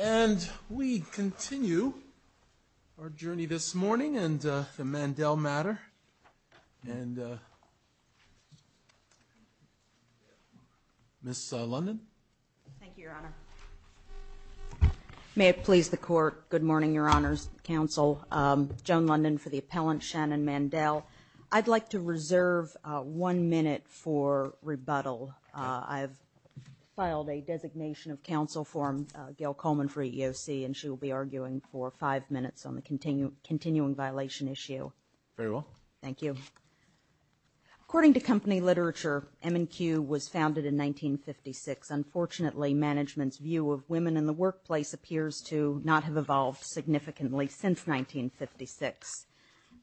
And we continue our journey this morning and the Mandel matter. And Miss London. Thank you, Your Honor. May it please the court. Good morning, Your Honor's counsel. Joan London for the appellant, Shannon Mandel. I'd like to reserve one minute for rebuttal. I have filed a designation of counsel for Gail Coleman for EEOC and she will be arguing for five minutes on the continuing violation issue. Very well. Thank you. According to company literature, M&Q was founded in 1956. Unfortunately, management's view of women in the workplace appears to not have evolved significantly since 1956.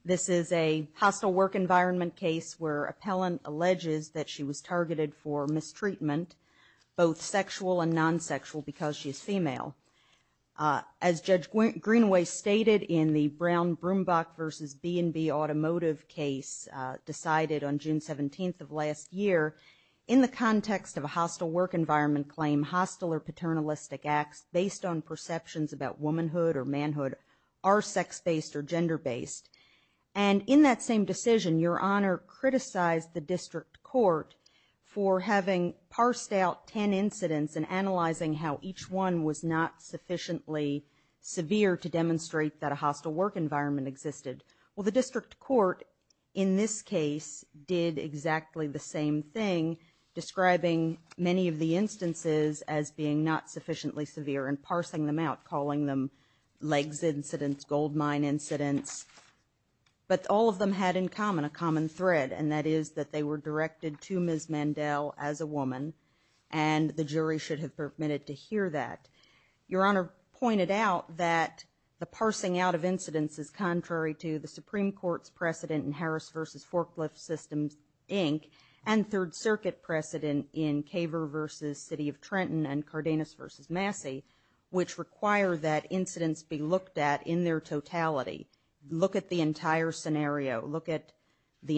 This is a hostile work environment case where appellant alleges that she was targeted for mistreatment, both sexual and non-sexual, because she is female. As Judge Greenway stated in the Brown-Broombach versus B&B automotive case decided on June 17th of last year, in the context of a hostile work environment claim, hostile or paternalistic acts based on perceptions about womanhood or manhood are sex-based or gender-based. And in that same decision, Your Honor criticized the district court for having parsed out ten incidents and analyzing how each one was not sufficiently severe to demonstrate that a hostile work environment existed. Well, the district court in this case did exactly the same thing, describing many of the instances as being not sufficiently severe and parsing them out, calling them legs incidents, goldmine incidents. But all of them had in common a common thread, and that is that they were directed to Ms. Mandel as a woman, and the jury should have permitted to hear that. Your Honor pointed out that the parsing out of incidents is contrary to the Supreme Court's precedent in Harris versus Forklift Systems, Inc., and Third Circuit precedent in Caver versus City of Trenton and Cardenas versus Massey, which require that incidents be looked at in their totality. Look at the entire scenario. Look at the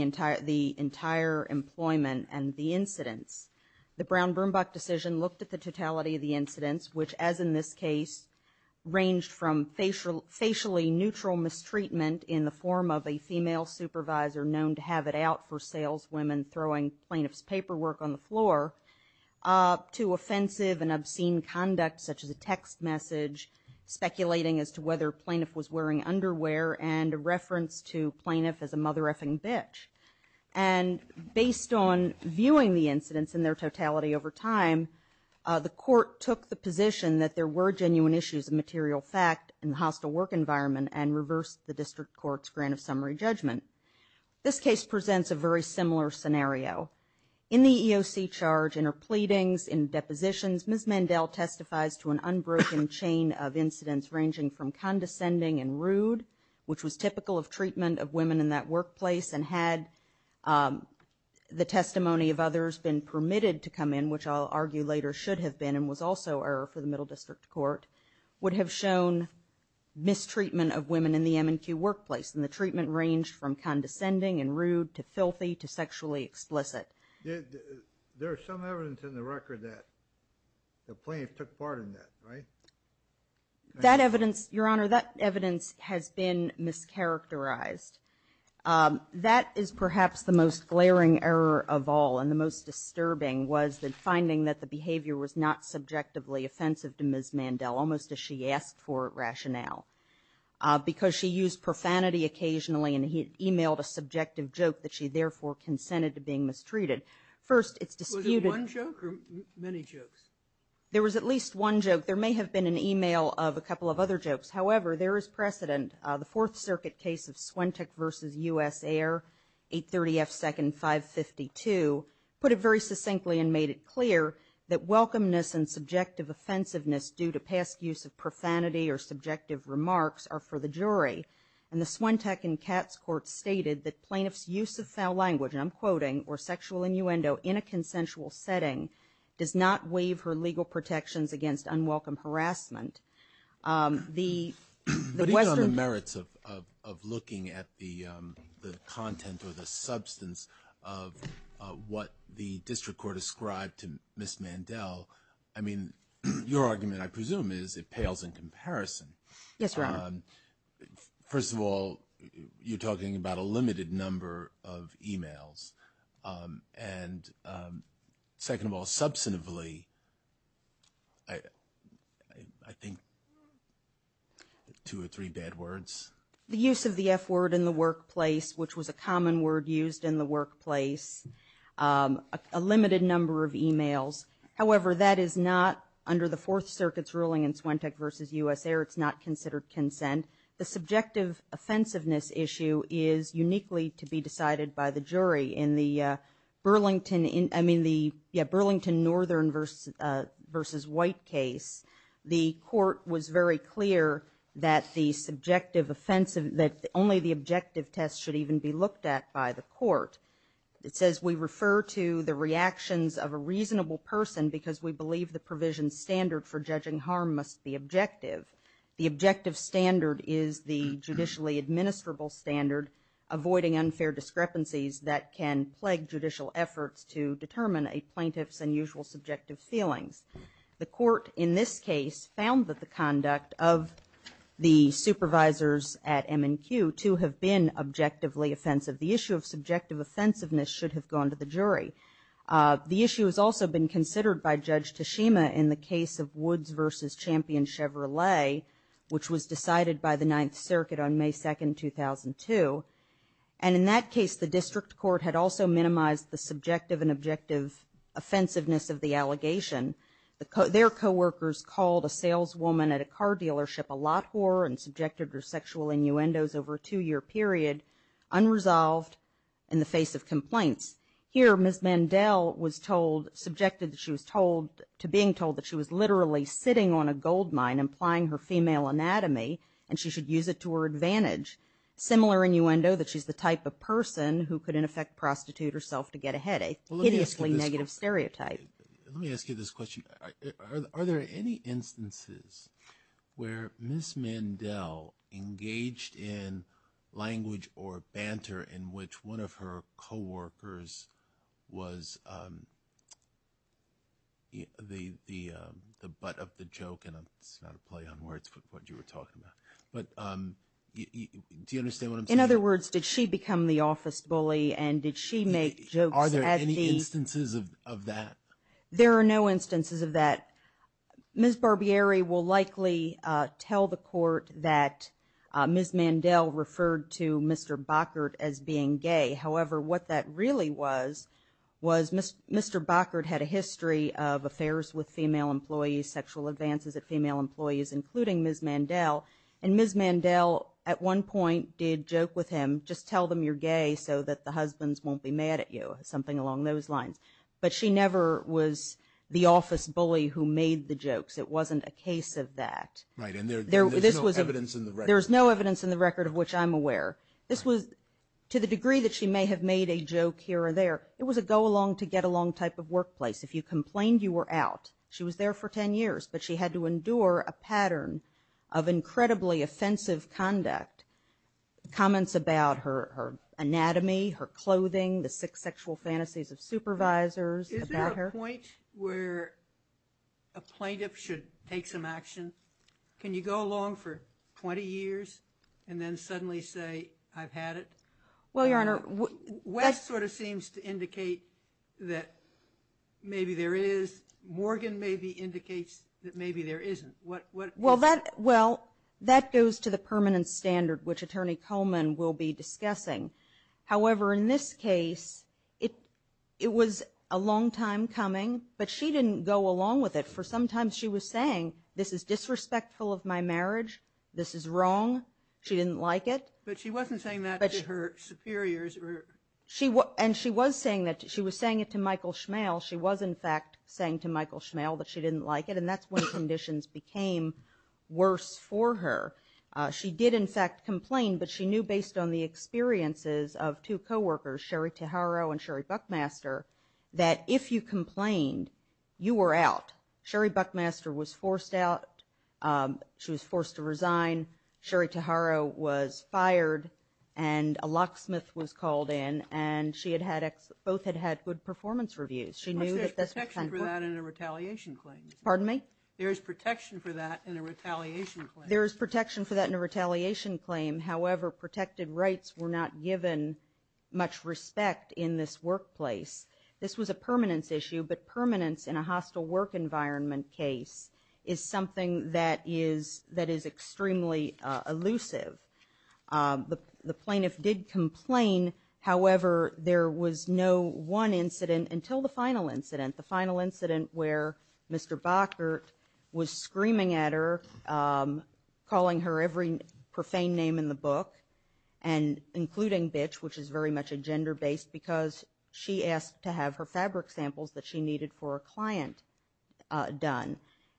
entire employment and the incidents. The Brown-Broombach decision looked at the totality of the incidents, which as in this case ranged from facially neutral mistreatment in the form of a female supervisor known to have it out for saleswomen throwing plaintiff's paperwork on the floor, to offensive and obscene conduct such as a text message, speculating as to whether a plaintiff was wearing underwear, and a reference to plaintiff as a mother-effing bitch. And based on viewing the incidents in their totality over time, the court took the position that there were genuine issues of material fact in the hostile work environment and reversed the district court's grant of summary judgment. This case presents a very similar scenario. In the EOC charge, in her pleadings, in depositions, Ms. Mandel testifies to an unbroken chain of incidents ranging from condescending and rude, which was typical of treatment of women in that workplace, and had the testimony of others been permitted to come in, which I'll argue later should have been and was also error for the middle district court, would have shown mistreatment of women in the M&Q workplace. And the treatment ranged from condescending and rude to filthy to sexually explicit. There is some evidence in the record that the plaintiff took part in that, right? That evidence, Your Honor, that evidence has been mischaracterized. That is perhaps the most glaring error of all, and the most disturbing was the finding that the behavior was not subjectively offensive to Ms. Mandel, almost as she asked for rationale, because she used profanity occasionally and emailed a subjective joke that she therefore consented to being mistreated. First, it's disputed. Was it one joke or many jokes? There was at least one joke. There may have been an email of a couple of other jokes. However, there is precedent. The Fourth Circuit case of Swenteck v. U.S. Air, 830 F. 2nd, 552, put it very succinctly and made it clear that welcomeness and subjective offensiveness due to past use of profanity or subjective remarks are for the jury. And the Swenteck and Katz courts stated that plaintiff's use of foul language, and I'm quoting, or sexual innuendo in a consensual setting does not waive her legal protections against unwelcome harassment. But even on the merits of looking at the content or the substance of what the district court ascribed to Ms. Mandel, I mean, your argument I presume is it pales in comparison. Yes, Your Honor. First of all, you're talking about a limited number of emails. And second of all, substantively, I think two or three bad words. The use of the F word in the workplace, which was a common word used in the workplace, a limited number of emails. However, that is not under the Fourth Circuit's ruling in Swenteck v. U.S. Air. It's not considered consent. And the subjective offensiveness issue is uniquely to be decided by the jury. In the Burlington Northern v. White case, the court was very clear that the subjective offensive, that only the objective test should even be looked at by the court. It says we refer to the reactions of a reasonable person because we believe the provision standard for judging harm must be objective. The objective standard is the judicially administrable standard, avoiding unfair discrepancies that can plague judicial efforts to determine a plaintiff's unusual subjective feelings. The court in this case found that the conduct of the supervisors at M&Q to have been objectively offensive. The issue of subjective offensiveness should have gone to the jury. The issue has also been considered by Judge Tashima in the case of Woods v. Champion Chevrolet, which was decided by the Ninth Circuit on May 2nd, 2002. And in that case, the district court had also minimized the subjective and objective offensiveness of the allegation. Their coworkers called a saleswoman at a car dealership a lot whore and subjected her to sexual innuendos over a two-year period, unresolved, in the face of complaints. Here, Ms. Mandel was told, subjected that she was told, to being told that she was literally sitting on a gold mine, implying her female anatomy, and she should use it to her advantage. Similar innuendo, that she's the type of person who could in effect prostitute herself to get ahead, a hideously negative stereotype. Let me ask you this question. Are there any instances where Ms. Mandel engaged in language or banter in which one of her coworkers was the butt of the joke? And it's not a play on words, but what you were talking about. But do you understand what I'm saying? In other words, did she become the office bully and did she make jokes at the- Are there any instances of that? There are no instances of that. Ms. Barbieri will likely tell the court that Ms. Mandel referred to Mr. Bockert as being gay. However, what that really was, was Mr. Bockert had a history of affairs with female employees, sexual advances at female employees, including Ms. Mandel. And Ms. Mandel, at one point, did joke with him, just tell them you're gay so that the husbands won't be mad at you, something along those lines. But she never was the office bully who made the jokes. It wasn't a case of that. Right, and there's no evidence in the record. There's no evidence in the record of which I'm aware. This was, to the degree that she may have made a joke here or there, it was a go-along-to-get-along type of workplace. If you complained, you were out. She was there for 10 years, but she had to endure a pattern of incredibly offensive conduct, comments about her anatomy, her clothing, the six sexual fantasies of supervisors about her. Is there a point where a plaintiff should take some action? Can you go along for 20 years and then suddenly say, I've had it? Well, Your Honor, Wes sort of seems to indicate that maybe there is. Morgan maybe indicates that maybe there isn't. Well, that goes to the permanent standard, which Attorney Coleman will be discussing. However, in this case, it was a long time coming, but she didn't go along with it, for sometimes she was saying, this is disrespectful of my marriage. This is wrong. She didn't like it. But she wasn't saying that to her superiors. And she was saying it to Michael Schmale. She was, in fact, saying to Michael Schmale that she didn't like it, and that's when conditions became worse for her. She did, in fact, complain, but she knew based on the experiences of two coworkers, Sherry Taharo and Sherry Buckmaster, that if you complained, you were out. Sherry Buckmaster was forced out. She was forced to resign. Sherry Taharo was fired, and a locksmith was called in, and both had had good performance reviews. There's protection for that in a retaliation claim. Pardon me? There is protection for that in a retaliation claim. There is protection for that in a retaliation claim. However, protected rights were not given much respect in this workplace. This was a permanence issue, but permanence in a hostile work environment case is something that is extremely elusive. The plaintiff did complain. However, there was no one incident until the final incident, the final incident where Mr. Bockert was screaming at her, calling her every profane name in the book, including Bitch, which is very much a gender-based, because she asked to have her fabric samples that she needed for a client done,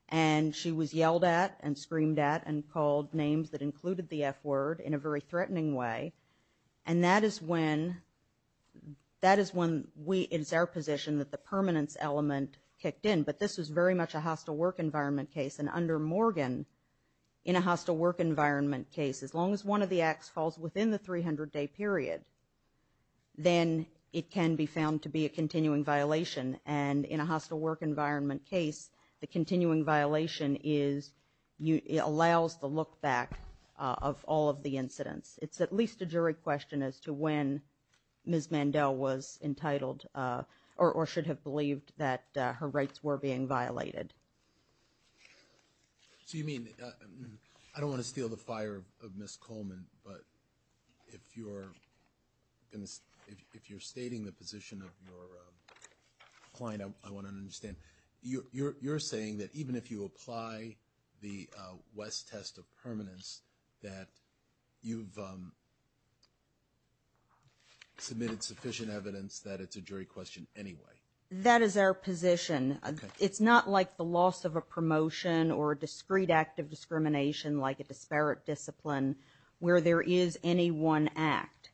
and she was yelled at and screamed at and called names that included the F word in a very threatening way, and that is when we, it is our position that the permanence element kicked in, but this was very much a hostile work environment case, and under Morgan, in a hostile work environment case, as long as one of the acts falls within the 300-day period, then it can be found to be a continuing violation, and in a hostile work environment case, the continuing violation allows the look back of all of the incidents. It's at least a jury question as to when Ms. Mandel was entitled or should have believed that her rights were being violated. So you mean, I don't want to steal the fire of Ms. Coleman, but if you're stating the position of your client, I want to understand. You're saying that even if you apply the West test of permanence, that you've submitted sufficient evidence that it's a jury question anyway? That is our position. It's not like the loss of a promotion or a discrete act of discrimination like a disparate discipline where there is any one act.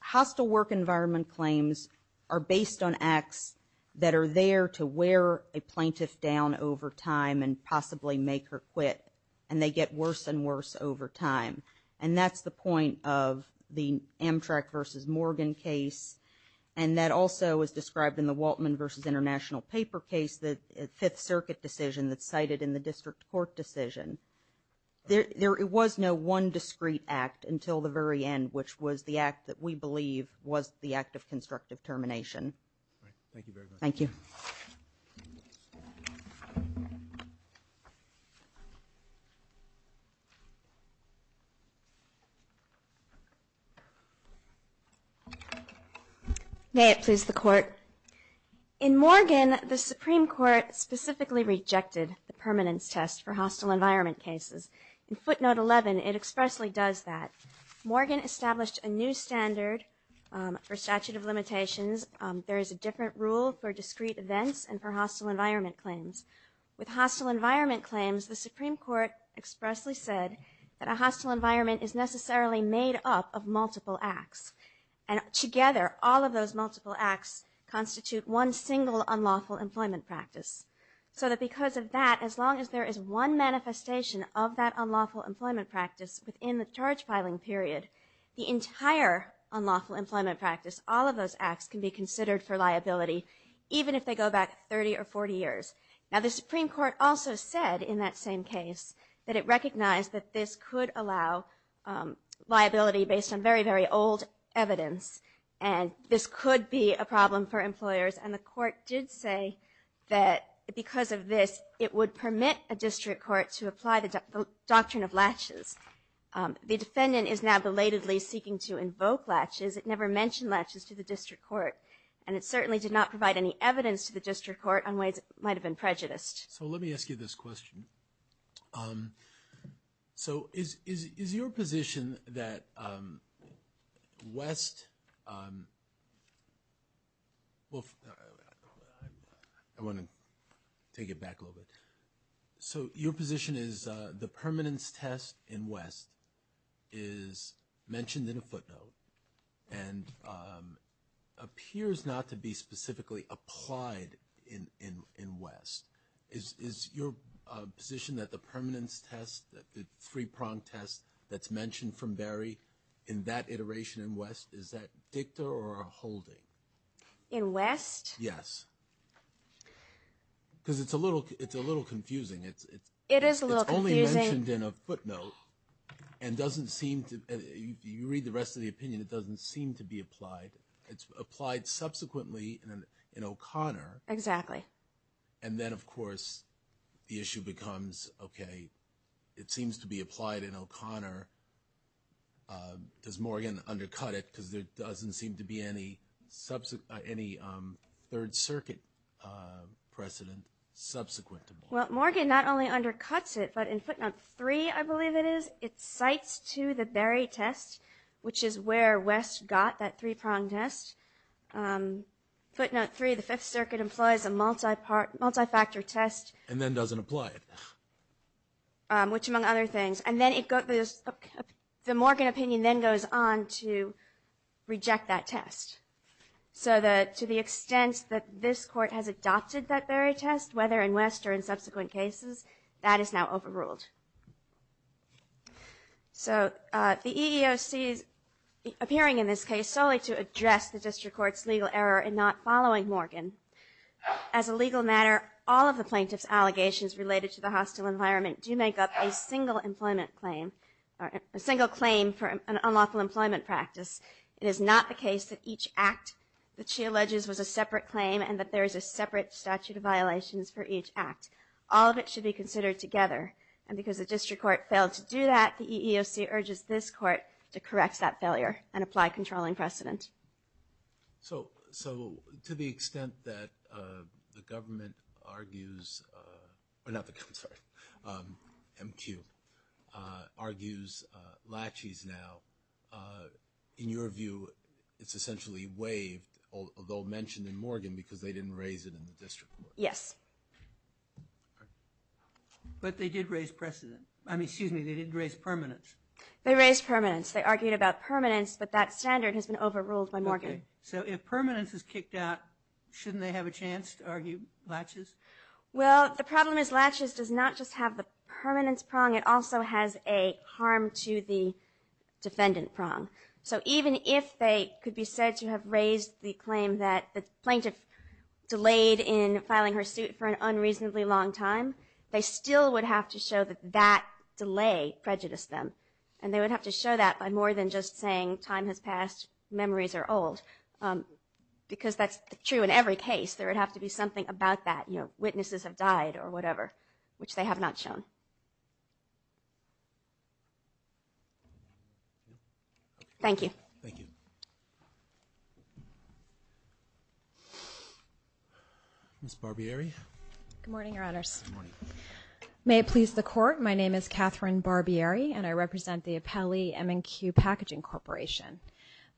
Hostile work environment claims are based on acts that are there to wear a plaintiff down over time and possibly make her quit, and they get worse and worse over time, and that's the point of the Amtrak versus Morgan case, and that also is described in the Waltman versus International Paper case, the Fifth Circuit decision that's cited in the district court decision. There was no one discrete act until the very end, which was the act that we believe was the act of constructive termination. Thank you very much. Thank you. May it please the Court. In Morgan, the Supreme Court specifically rejected the permanence test for hostile environment cases. In footnote 11, it expressly does that. Morgan established a new standard for statute of limitations. There is a different rule for discrete events and for hostile environment claims. With hostile environment claims, the Supreme Court expressly said that a hostile environment is necessarily made up of multiple acts, and together all of those multiple acts constitute one single unlawful employment practice, so that because of that, as long as there is one manifestation of that unlawful employment practice within the charge-filing period, the entire unlawful employment practice, all of those acts, can be considered for liability even if they go back 30 or 40 years. Now, the Supreme Court also said in that same case that it recognized that this could allow liability based on very, very old evidence, and this could be a problem for employers, and the Court did say that because of this, it would permit a district court to apply the doctrine of latches. The defendant is now belatedly seeking to invoke latches. It never mentioned latches to the district court, and it certainly did not provide any evidence to the district court on ways it might have been prejudiced. So let me ask you this question. So is your position that West – well, I want to take it back a little bit. So your position is the permanence test in West is mentioned in a footnote and appears not to be specifically applied in West. Is your position that the permanence test, the three-prong test that's mentioned from Berry in that iteration in West, is that dicta or a holding? In West? Yes. Because it's a little confusing. It is a little confusing. It's only mentioned in a footnote and doesn't seem to – in my opinion, it doesn't seem to be applied. It's applied subsequently in O'Connor. Exactly. And then, of course, the issue becomes, okay, it seems to be applied in O'Connor. Does Morgan undercut it because there doesn't seem to be any Third Circuit precedent subsequent to Morgan? Well, Morgan not only undercuts it, but in footnote 3, I believe it is, it cites to the Berry test, which is where West got that three-prong test. Footnote 3, the Fifth Circuit employs a multi-factor test. And then doesn't apply it. Which, among other things. And then the Morgan opinion then goes on to reject that test. So to the extent that this Court has adopted that Berry test, whether in West or in subsequent cases, that is now overruled. So the EEOC is appearing in this case solely to address the District Court's legal error in not following Morgan. As a legal matter, all of the plaintiff's allegations related to the hostile environment do make up a single employment claim – a single claim for an unlawful employment practice. It is not the case that each act that she alleges was a separate claim and that there is a separate statute of violations for each act. All of it should be considered together. And because the District Court failed to do that, the EEOC urges this Court to correct that failure and apply controlling precedent. So to the extent that the government argues – or not the government, sorry – MQ argues laches now, in your view, it's essentially waived, although mentioned in Morgan because they didn't raise it in the District Court. Yes. But they did raise precedent – I mean, excuse me, they did raise permanence. They raised permanence. They argued about permanence, but that standard has been overruled by Morgan. Okay. So if permanence is kicked out, shouldn't they have a chance to argue laches? Well, the problem is laches does not just have the permanence prong. It also has a harm to the defendant prong. So even if they could be said to have raised the claim that the plaintiff delayed in filing her suit for an unreasonably long time, they still would have to show that that delay prejudiced them. And they would have to show that by more than just saying time has passed, memories are old because that's true in every case. There would have to be something about that, you know, Thank you. Thank you. Ms. Barbieri. Good morning, Your Honors. Good morning. May it please the Court, my name is Catherine Barbieri, and I represent the Appellee M&Q Packaging Corporation.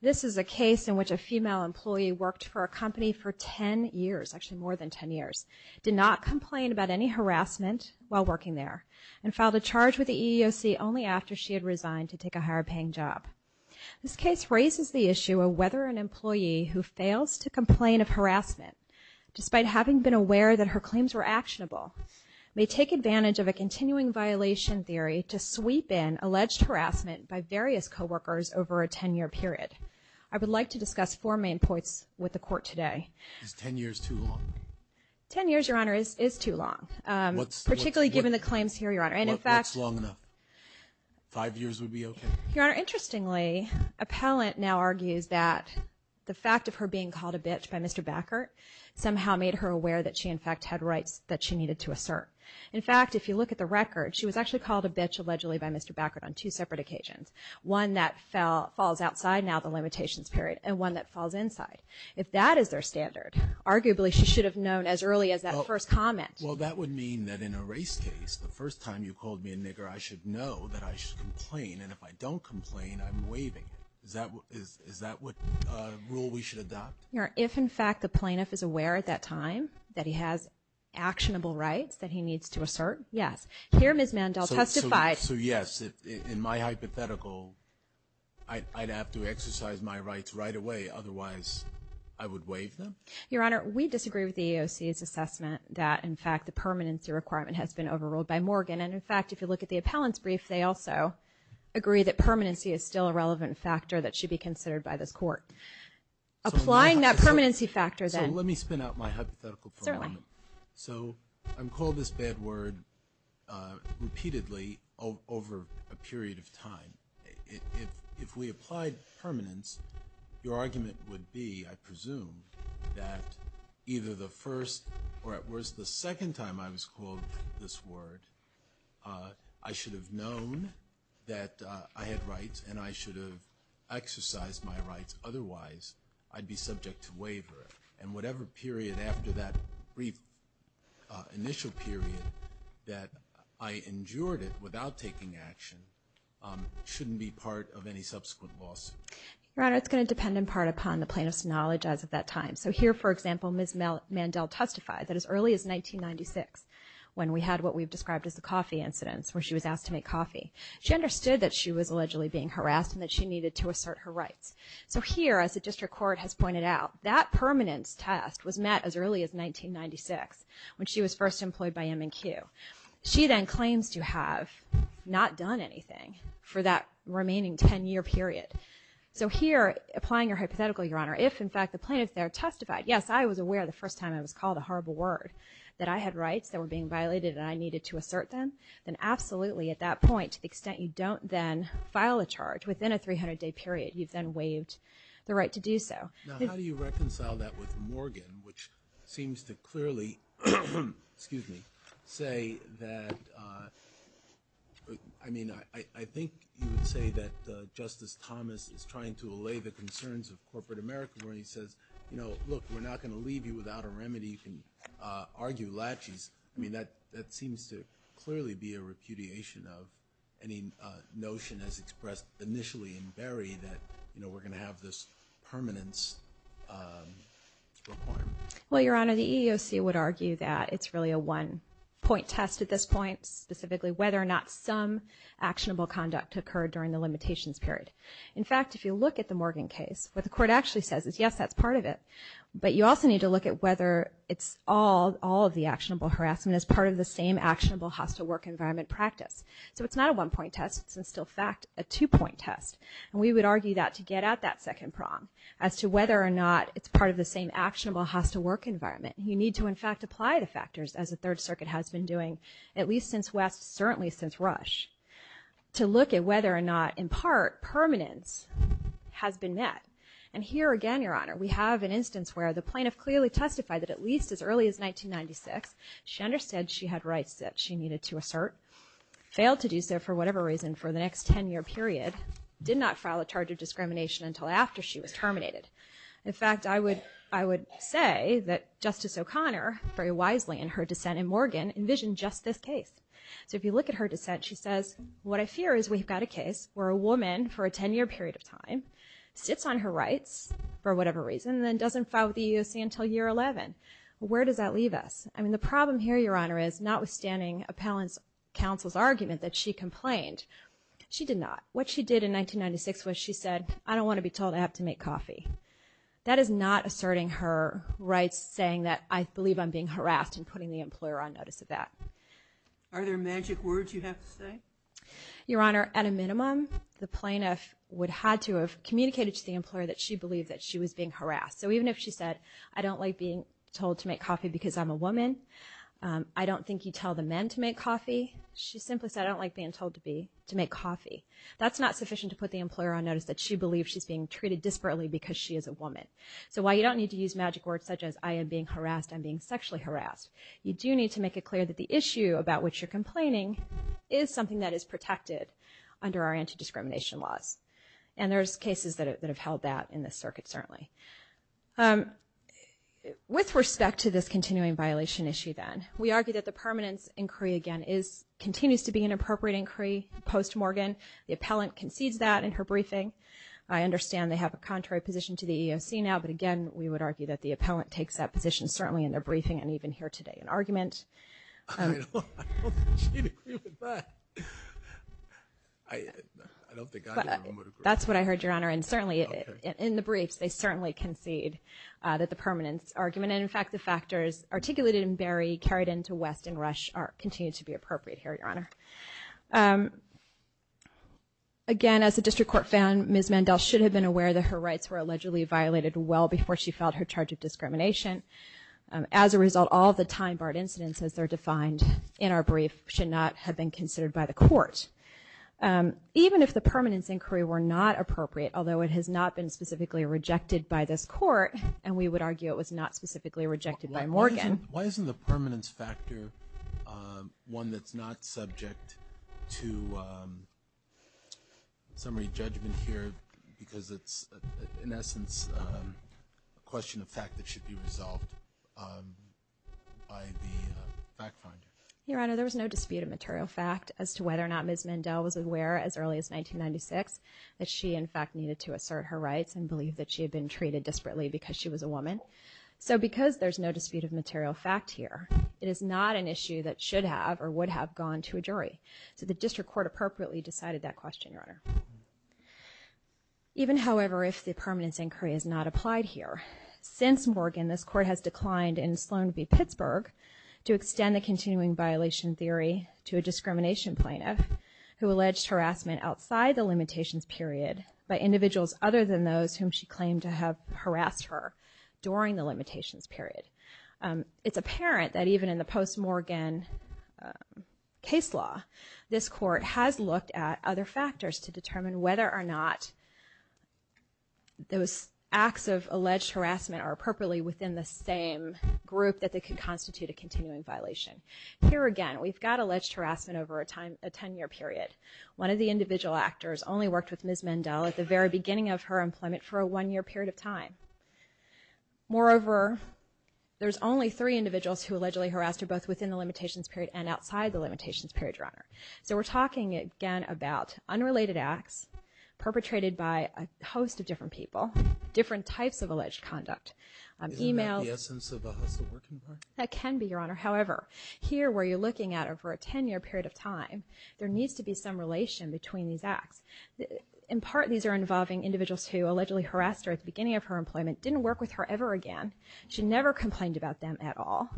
This is a case in which a female employee worked for a company for 10 years, actually more than 10 years, did not complain about any harassment while working there, and filed a charge with the EEOC only after she had resigned to take a higher-paying job. This case raises the issue of whether an employee who fails to complain of harassment, despite having been aware that her claims were actionable, may take advantage of a continuing violation theory to sweep in alleged harassment by various coworkers over a 10-year period. I would like to discuss four main points with the Court today. Is 10 years too long? Ten years, Your Honor, is too long. Particularly given the claims here, Your Honor. What's long enough? Five years would be okay? Your Honor, interestingly, appellant now argues that the fact of her being called a bitch by Mr. Backert somehow made her aware that she, in fact, had rights that she needed to assert. In fact, if you look at the record, she was actually called a bitch allegedly by Mr. Backert on two separate occasions, one that falls outside now the limitations period and one that falls inside. If that is their standard, arguably she should have known as early as that first comment. Well, that would mean that in a race case, the first time you called me a nigger, I should know that I should complain, and if I don't complain, I'm waiving it. Is that what rule we should adopt? Your Honor, if, in fact, the plaintiff is aware at that time that he has actionable rights that he needs to assert, yes. Here Ms. Mandel testified. So, yes, in my hypothetical, I'd have to exercise my rights right away. Otherwise, I would waive them? Your Honor, we disagree with the EEOC's assessment that, in fact, the permanency requirement has been overruled by Morgan, and, in fact, if you look at the appellant's brief, they also agree that permanency is still a relevant factor that should be considered by this court. Applying that permanency factor then. So let me spin out my hypothetical for a moment. Certainly. So I'm called this bad word repeatedly over a period of time. If we applied permanence, your argument would be, I presume, that either the first or, at worst, the second time I was called this word, I should have known that I had rights and I should have exercised my rights. Otherwise, I'd be subject to waiver. And whatever period after that brief initial period that I endured it without taking action shouldn't be part of any subsequent loss. Your Honor, it's going to depend in part upon the plaintiff's knowledge as of that time. So here, for example, Ms. Mandel testified that as early as 1996, when we had what we've described as the coffee incidents where she was asked to make coffee, she understood that she was allegedly being harassed and that she needed to assert her rights. So here, as the district court has pointed out, that permanence test was met as early as 1996 when she was first employed by M&Q. She then claims to have not done anything for that remaining 10-year period. So here, applying your hypothetical, your Honor, if, in fact, the plaintiff there testified, yes, I was aware the first time I was called a horrible word, that I had rights that were being violated and I needed to assert them, then absolutely, at that point, to the extent you don't then file a charge within a 300-day period, you've then waived the right to do so. Now, how do you reconcile that with Morgan, which seems to clearly say that, I mean, I think you would say that Justice Thomas is trying to allay the concerns of corporate America where he says, you know, look, we're not going to leave you without a remedy. You can argue laches. I mean, that seems to clearly be a repudiation of any notion as expressed initially in Berry that, you know, we're going to have this permanence requirement. Well, Your Honor, the EEOC would argue that it's really a one-point test at this point, specifically whether or not some actionable conduct occurred during the limitations period. In fact, if you look at the Morgan case, what the court actually says is, yes, that's part of it, but you also need to look at whether it's all of the actionable harassment as part of the same actionable hostile work environment practice. So it's not a one-point test. It's, in still fact, a two-point test. And we would argue that to get out that second prong as to whether or not it's part of the same actionable hostile work environment, you need to, in fact, apply the factors as the Third Circuit has been doing at least since West, certainly since Rush, to look at whether or not, in part, permanence has been met. And here again, Your Honor, we have an instance where the plaintiff clearly testified that at least as early as 1996 she understood she had rights that she needed to assert, failed to do so for whatever reason for the next 10-year period, did not file a charge of discrimination until after she was terminated. In fact, I would say that Justice O'Connor, very wisely in her dissent in Morgan, envisioned just this case. So if you look at her dissent, she says, what I fear is we've got a case where a woman for a 10-year period of time sits on her rights for whatever reason and then doesn't file with the EEOC until year 11. Where does that leave us? I mean, the problem here, Your Honor, is notwithstanding appellant's counsel's argument that she complained, she did not. What she did in 1996 was she said, I don't want to be told I have to make coffee. That is not asserting her rights saying that I believe I'm being harassed and putting the employer on notice of that. Are there magic words you have to say? Your Honor, at a minimum, the plaintiff would have had to have communicated to the employer that she believed that she was being harassed. So even if she said, I don't like being told to make coffee because I'm a woman, I don't think you tell the men to make coffee, she simply said, I don't like being told to make coffee. That's not sufficient to put the employer on notice that she believes she's being treated disparately because she is a woman. So while you don't need to use magic words such as I am being harassed, I'm being sexually harassed, you do need to make it clear that the issue about which you're complaining is something that is protected under our anti-discrimination laws. And there's cases that have held that in this circuit certainly. With respect to this continuing violation issue then, we argue that the permanence inquiry again continues to be an appropriate inquiry post-Morgan. The appellant concedes that in her briefing. I understand they have a contrary position to the EEOC now, but again we would argue that the appellant takes that position certainly in their briefing and even here today in argument. I don't think she'd agree with that. I don't think I would agree. That's what I heard, Your Honor. And certainly in the briefs they certainly concede that the permanence argument and in fact the factors articulated in Berry carried into West and Rush continue to be appropriate here, Your Honor. Again, as the district court found, Ms. Mandel should have been aware that her rights were allegedly violated well before she filed her charge of discrimination. As a result, all the time-barred incidents as they're defined in our brief should not have been considered by the court. Even if the permanence inquiry were not appropriate, although it has not been specifically rejected by this court and we would argue it was not specifically rejected by Morgan. Why isn't the permanence factor one that's not subject to summary judgment here because it's in essence a question of fact that should be resolved by the fact finder? Your Honor, there was no dispute of material fact as to whether or not Ms. Mandel was aware as early as 1996 that she in fact needed to assert her rights and believe that she had been treated desperately because she was a woman. So because there's no dispute of material fact here, it is not an issue that should have or would have gone to a jury. So the district court appropriately decided that question, Your Honor. Even however, if the permanence inquiry is not applied here, since Morgan this court has declined in Sloan v. Pittsburgh to extend the continuing violation theory to a discrimination plaintiff who alleged harassment outside the limitations period by individuals other than those whom she claimed to have harassed her during the limitations period. It's apparent that even in the post-Morgan case law, this court has looked at other factors to determine whether or not those acts of alleged harassment are appropriately within the same group that they could constitute a continuing violation. Here again, we've got alleged harassment over a 10-year period. One of the individual actors only worked with Ms. Mandel at the very beginning of her employment for a one-year period of time. Moreover, there's only three individuals who allegedly harassed her both within the limitations period and outside the limitations period, Your Honor. So we're talking again about unrelated acts perpetrated by a host of different people, different types of alleged conduct. E-mails. Isn't that the essence of a hostile working partner? That can be, Your Honor. However, here where you're looking at over a 10-year period of time, there needs to be some relation between these acts. In part, these are involving individuals who allegedly harassed her at the beginning of her employment, didn't work with her ever again. She never complained about them at all.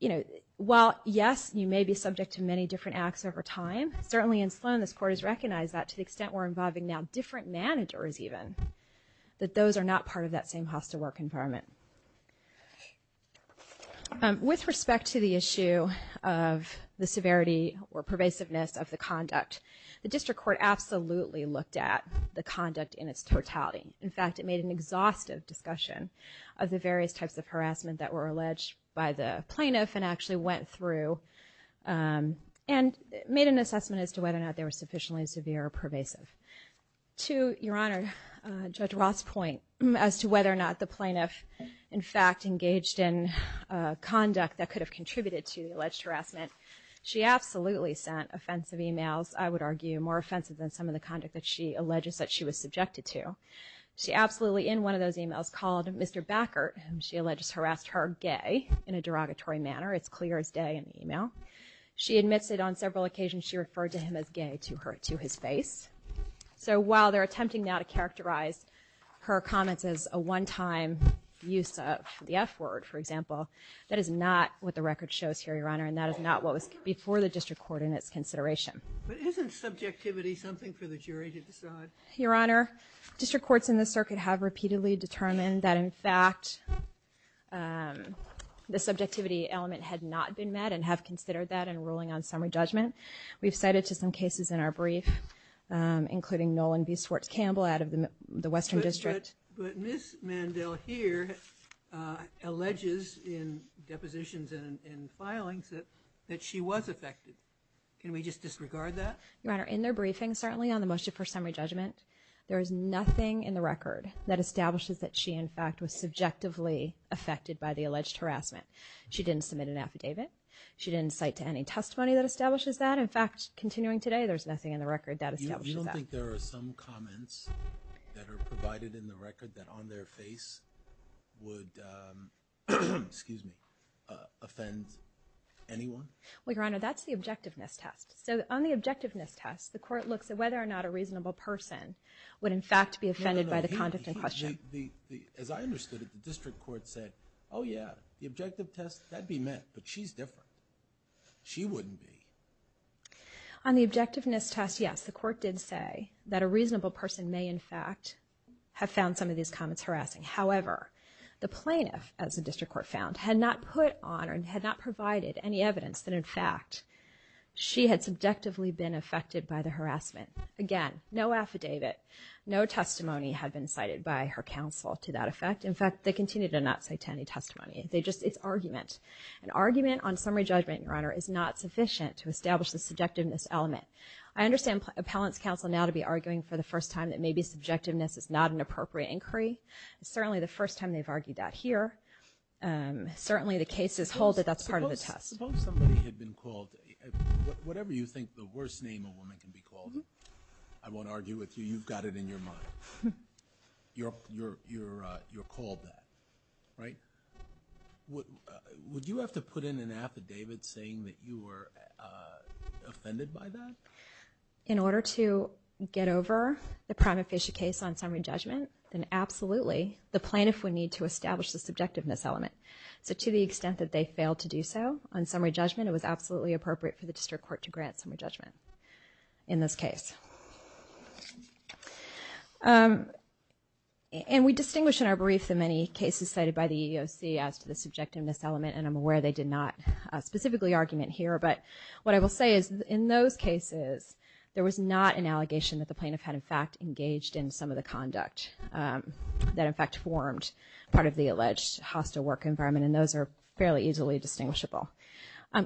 You know, while, yes, you may be subject to many different acts over time, certainly in Sloan this court has recognized that to the extent we're involving now different managers even, that those are not part of that same hostile work environment. With respect to the issue of the severity or pervasiveness of the conduct, the district court absolutely looked at the conduct in its totality. In fact, it made an exhaustive discussion of the various types of harassment that were alleged by the plaintiff and actually went through and made an assessment as to whether or not they were sufficiently severe or pervasive. To Your Honor, Judge Roth's point as to whether or not the plaintiff, in fact, engaged in conduct that could have contributed to the alleged harassment, she absolutely sent offensive e-mails. I would argue more offensive than some of the conduct that she alleges that she was subjected to. She absolutely, in one of those e-mails, called Mr. Backert, whom she alleges harassed her, gay, in a derogatory manner. It's clear as day in the e-mail. She admits that on several occasions she referred to him as gay to his face. So while they're attempting now to characterize her comments as a one-time use of the F word, for example, that is not what the record shows here, Your Honor, and that is not what was before the district court in its consideration. But isn't subjectivity something for the jury to decide? Your Honor, district courts in this circuit have repeatedly determined that, in fact, the subjectivity element had not been met and have considered that in ruling on summary judgment. We've cited to some cases in our brief, including Nolan B. Swartz Campbell out of the Western District. But Ms. Mandel here alleges in depositions and filings that she was affected. Can we just disregard that? Your Honor, in their briefing, certainly on the motion for summary judgment, there is nothing in the record that establishes that she, in fact, was subjectively affected by the alleged harassment. She didn't submit an affidavit. She didn't cite to any testimony that establishes that. In fact, continuing today, there's nothing in the record that establishes that. You don't think there are some comments that are provided in the record that on their face would, excuse me, offend anyone? Well, Your Honor, that's the objectiveness test. So on the objectiveness test, the court looks at whether or not a reasonable person would, in fact, be offended by the conduct in question. As I understood it, the district court said, oh, yeah, the objective test, that'd be met, but she's different. She wouldn't be. On the objectiveness test, yes, the court did say that a reasonable person may, in fact, have found some of these comments harassing. However, the plaintiff, as the district court found, had not put on or had not provided any evidence that, in fact, she had subjectively been affected by the harassment. Again, no affidavit, no testimony had been cited by her counsel to that effect. In fact, they continue to not cite to any testimony. They just, it's argument. An argument on summary judgment, Your Honor, is not sufficient to establish the subjectiveness element. I understand Appellant's Counsel now to be arguing for the first time that maybe subjectiveness is not an appropriate inquiry. It's certainly the first time they've argued that here. Certainly the case is hold that that's part of the test. Suppose somebody had been called, whatever you think the worst name a woman can be called, I won't argue with you, you've got it in your mind. You're called that, right? Would you have to put in an affidavit saying that you were offended by that? In order to get over the prima facie case on summary judgment, then absolutely the plaintiff would need to establish the subjectiveness element. So to the extent that they failed to do so on summary judgment, it was absolutely appropriate for the district court to grant summary judgment in this case. And we distinguish in our brief the many cases cited by the EEOC as to the subjectiveness element, and I'm aware they did not specifically argument here. But what I will say is in those cases there was not an allegation that the plaintiff had in fact engaged in some of the conduct that in fact formed part of the alleged hostile work environment, and those are fairly easily distinguishable.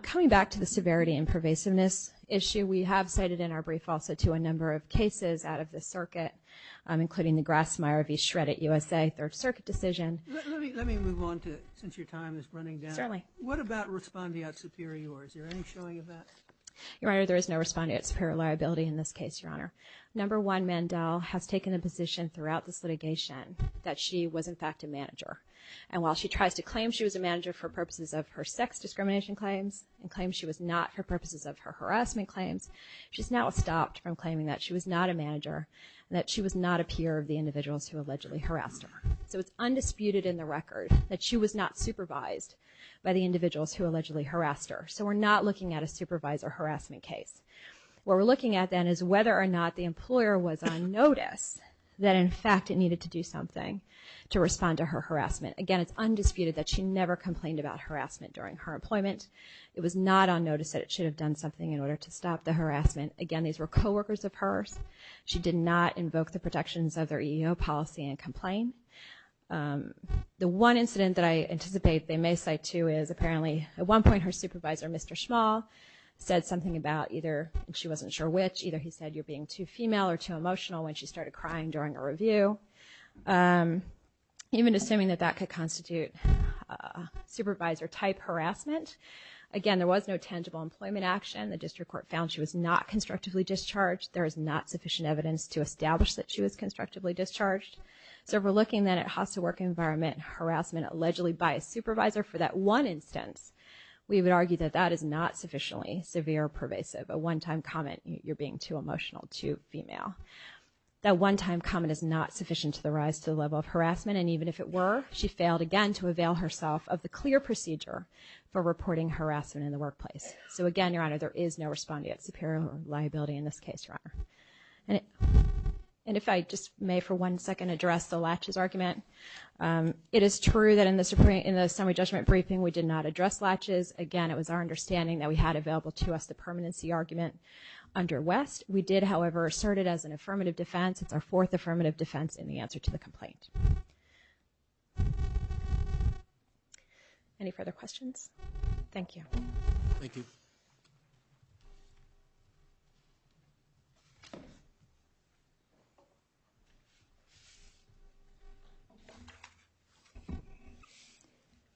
Coming back to the severity and pervasiveness issue, we have cited in our brief also to a number of cases out of the circuit, including the Grassmeyer v. Shreddit USA Third Circuit decision. Let me move on to it since your time is running down. Certainly. What about respondeat superior? Is there any showing of that? Your Honor, there is no respondeat superior liability in this case, Your Honor. Number one, Mandel has taken a position throughout this litigation that she was in fact a manager, and while she tries to claim she was a manager for purposes of her sex discrimination claims and claims she was not for purposes of her harassment claims, she's now stopped from claiming that she was not a manager and that she was not a peer of the individuals who allegedly harassed her. So it's undisputed in the record that she was not supervised by the individuals who allegedly harassed her. So we're not looking at a supervisor harassment case. What we're looking at then is whether or not the employer was on notice that in fact it needed to do something to respond to her harassment. Again, it's undisputed that she never complained about harassment during her employment. It was not on notice that it should have done something in order to stop the harassment. Again, these were coworkers of hers. She did not invoke the protections of their EEO policy and complain. The one incident that I anticipate they may cite too is apparently at one point her supervisor, Mr. Schmall, said something about either, and she wasn't sure which, either he said you're being too female or too emotional when she started crying during a review, even assuming that that could constitute supervisor-type harassment. Again, there was no tangible employment action. The district court found she was not constructively discharged. There is not sufficient evidence to establish that she was constructively discharged. So if we're looking then at hostile work environment harassment allegedly by a supervisor for that one instance, we would argue that that is not sufficiently severe or pervasive, a one-time comment, you're being too emotional, too female. That one-time comment is not sufficient to the rise to the level of harassment, and even if it were, she failed again to avail herself of the clear procedure for reporting harassment in the workplace. So again, Your Honor, there is no respondeat superior liability in this case, Your Honor. And if I just may for one second address the latches argument, it is true that in the summary judgment briefing we did not address latches. Again, it was our understanding that we had available to us the permanency argument under West. We did, however, assert it as an affirmative defense. It's our fourth affirmative defense in the answer to the complaint. Any further questions? Thank you. Thank you.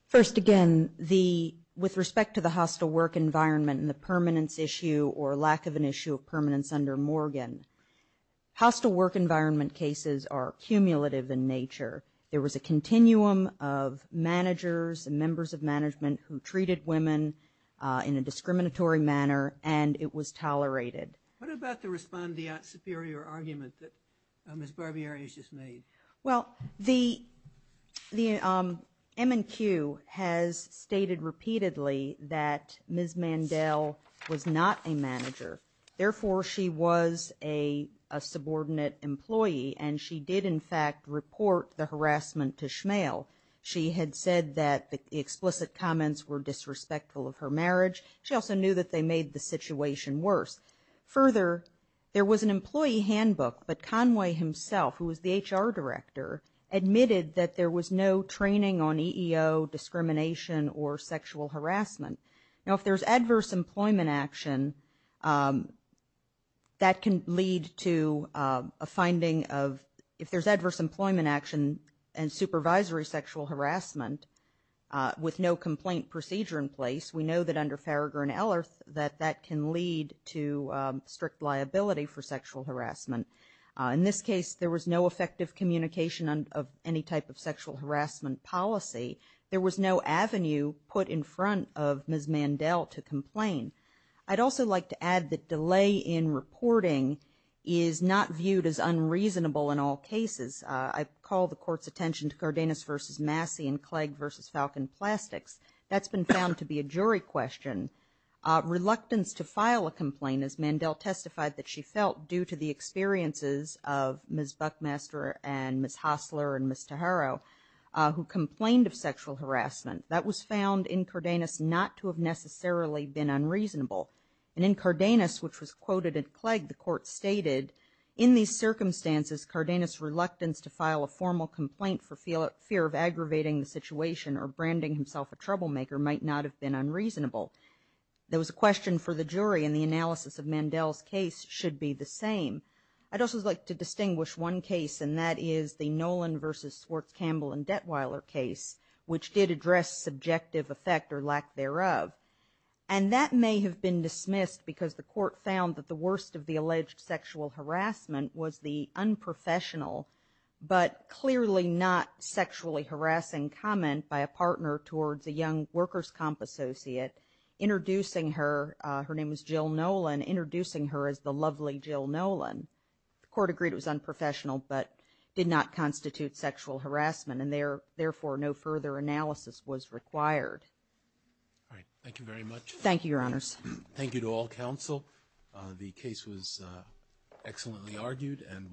First, again, with respect to the hostile work environment and the permanence issue or lack of an issue of permanence under Morgan, hostile work environment cases are cumulative in nature. There was a continuum of managers and members of management who treated women in a discriminatory manner, and it was tolerated. What about the respondeat superior argument that Ms. Barbieri has just made? Well, the M&Q has stated repeatedly that Ms. Mandel was not a manager. Therefore, she was a subordinate employee, and she did, in fact, report the harassment to Schmale. She had said that the explicit comments were disrespectful of her marriage. She also knew that they made the situation worse. Further, there was an employee handbook, but Conway himself, who was the HR director, admitted that there was no training on EEO discrimination or sexual harassment. Now, if there's adverse employment action, that can lead to a finding of, if there's adverse employment action and supervisory sexual harassment with no complaint procedure in place, we know that under Farragher and Ellerth that that can lead to strict liability for sexual harassment. In this case, there was no effective communication of any type of sexual harassment policy. There was no avenue put in front of Ms. Mandel to complain. I'd also like to add that delay in reporting is not viewed as unreasonable in all cases. I call the Court's attention to Cardenas v. Massey and Clegg v. Falcon Plastics. That's been found to be a jury question. Reluctance to file a complaint, as Mandel testified that she felt, due to the experiences of Ms. Buckmaster and Ms. Hosler and Ms. Taharo, who complained of sexual harassment, that was found in Cardenas not to have necessarily been unreasonable. And in Cardenas, which was quoted in Clegg, the Court stated, in these circumstances, Cardenas' reluctance to file a formal complaint for fear of aggravating the situation or branding himself a troublemaker might not have been unreasonable. There was a question for the jury, and the analysis of Mandel's case should be the same. I'd also like to distinguish one case, and that is the Nolan v. Swartz, Campbell, and Detweiler case, which did address subjective effect or lack thereof. And that may have been dismissed because the Court found that the worst of the alleged sexual harassment was the unprofessional but clearly not sexually harassing comment by a partner towards a young workers' comp associate, introducing her, her name was Jill Nolan, introducing her as the lovely Jill Nolan. The Court agreed it was unprofessional but did not constitute sexual harassment, and therefore no further analysis was required. All right, thank you very much. Thank you, Your Honors. Thank you to all counsel. The case was excellently argued and well briefed.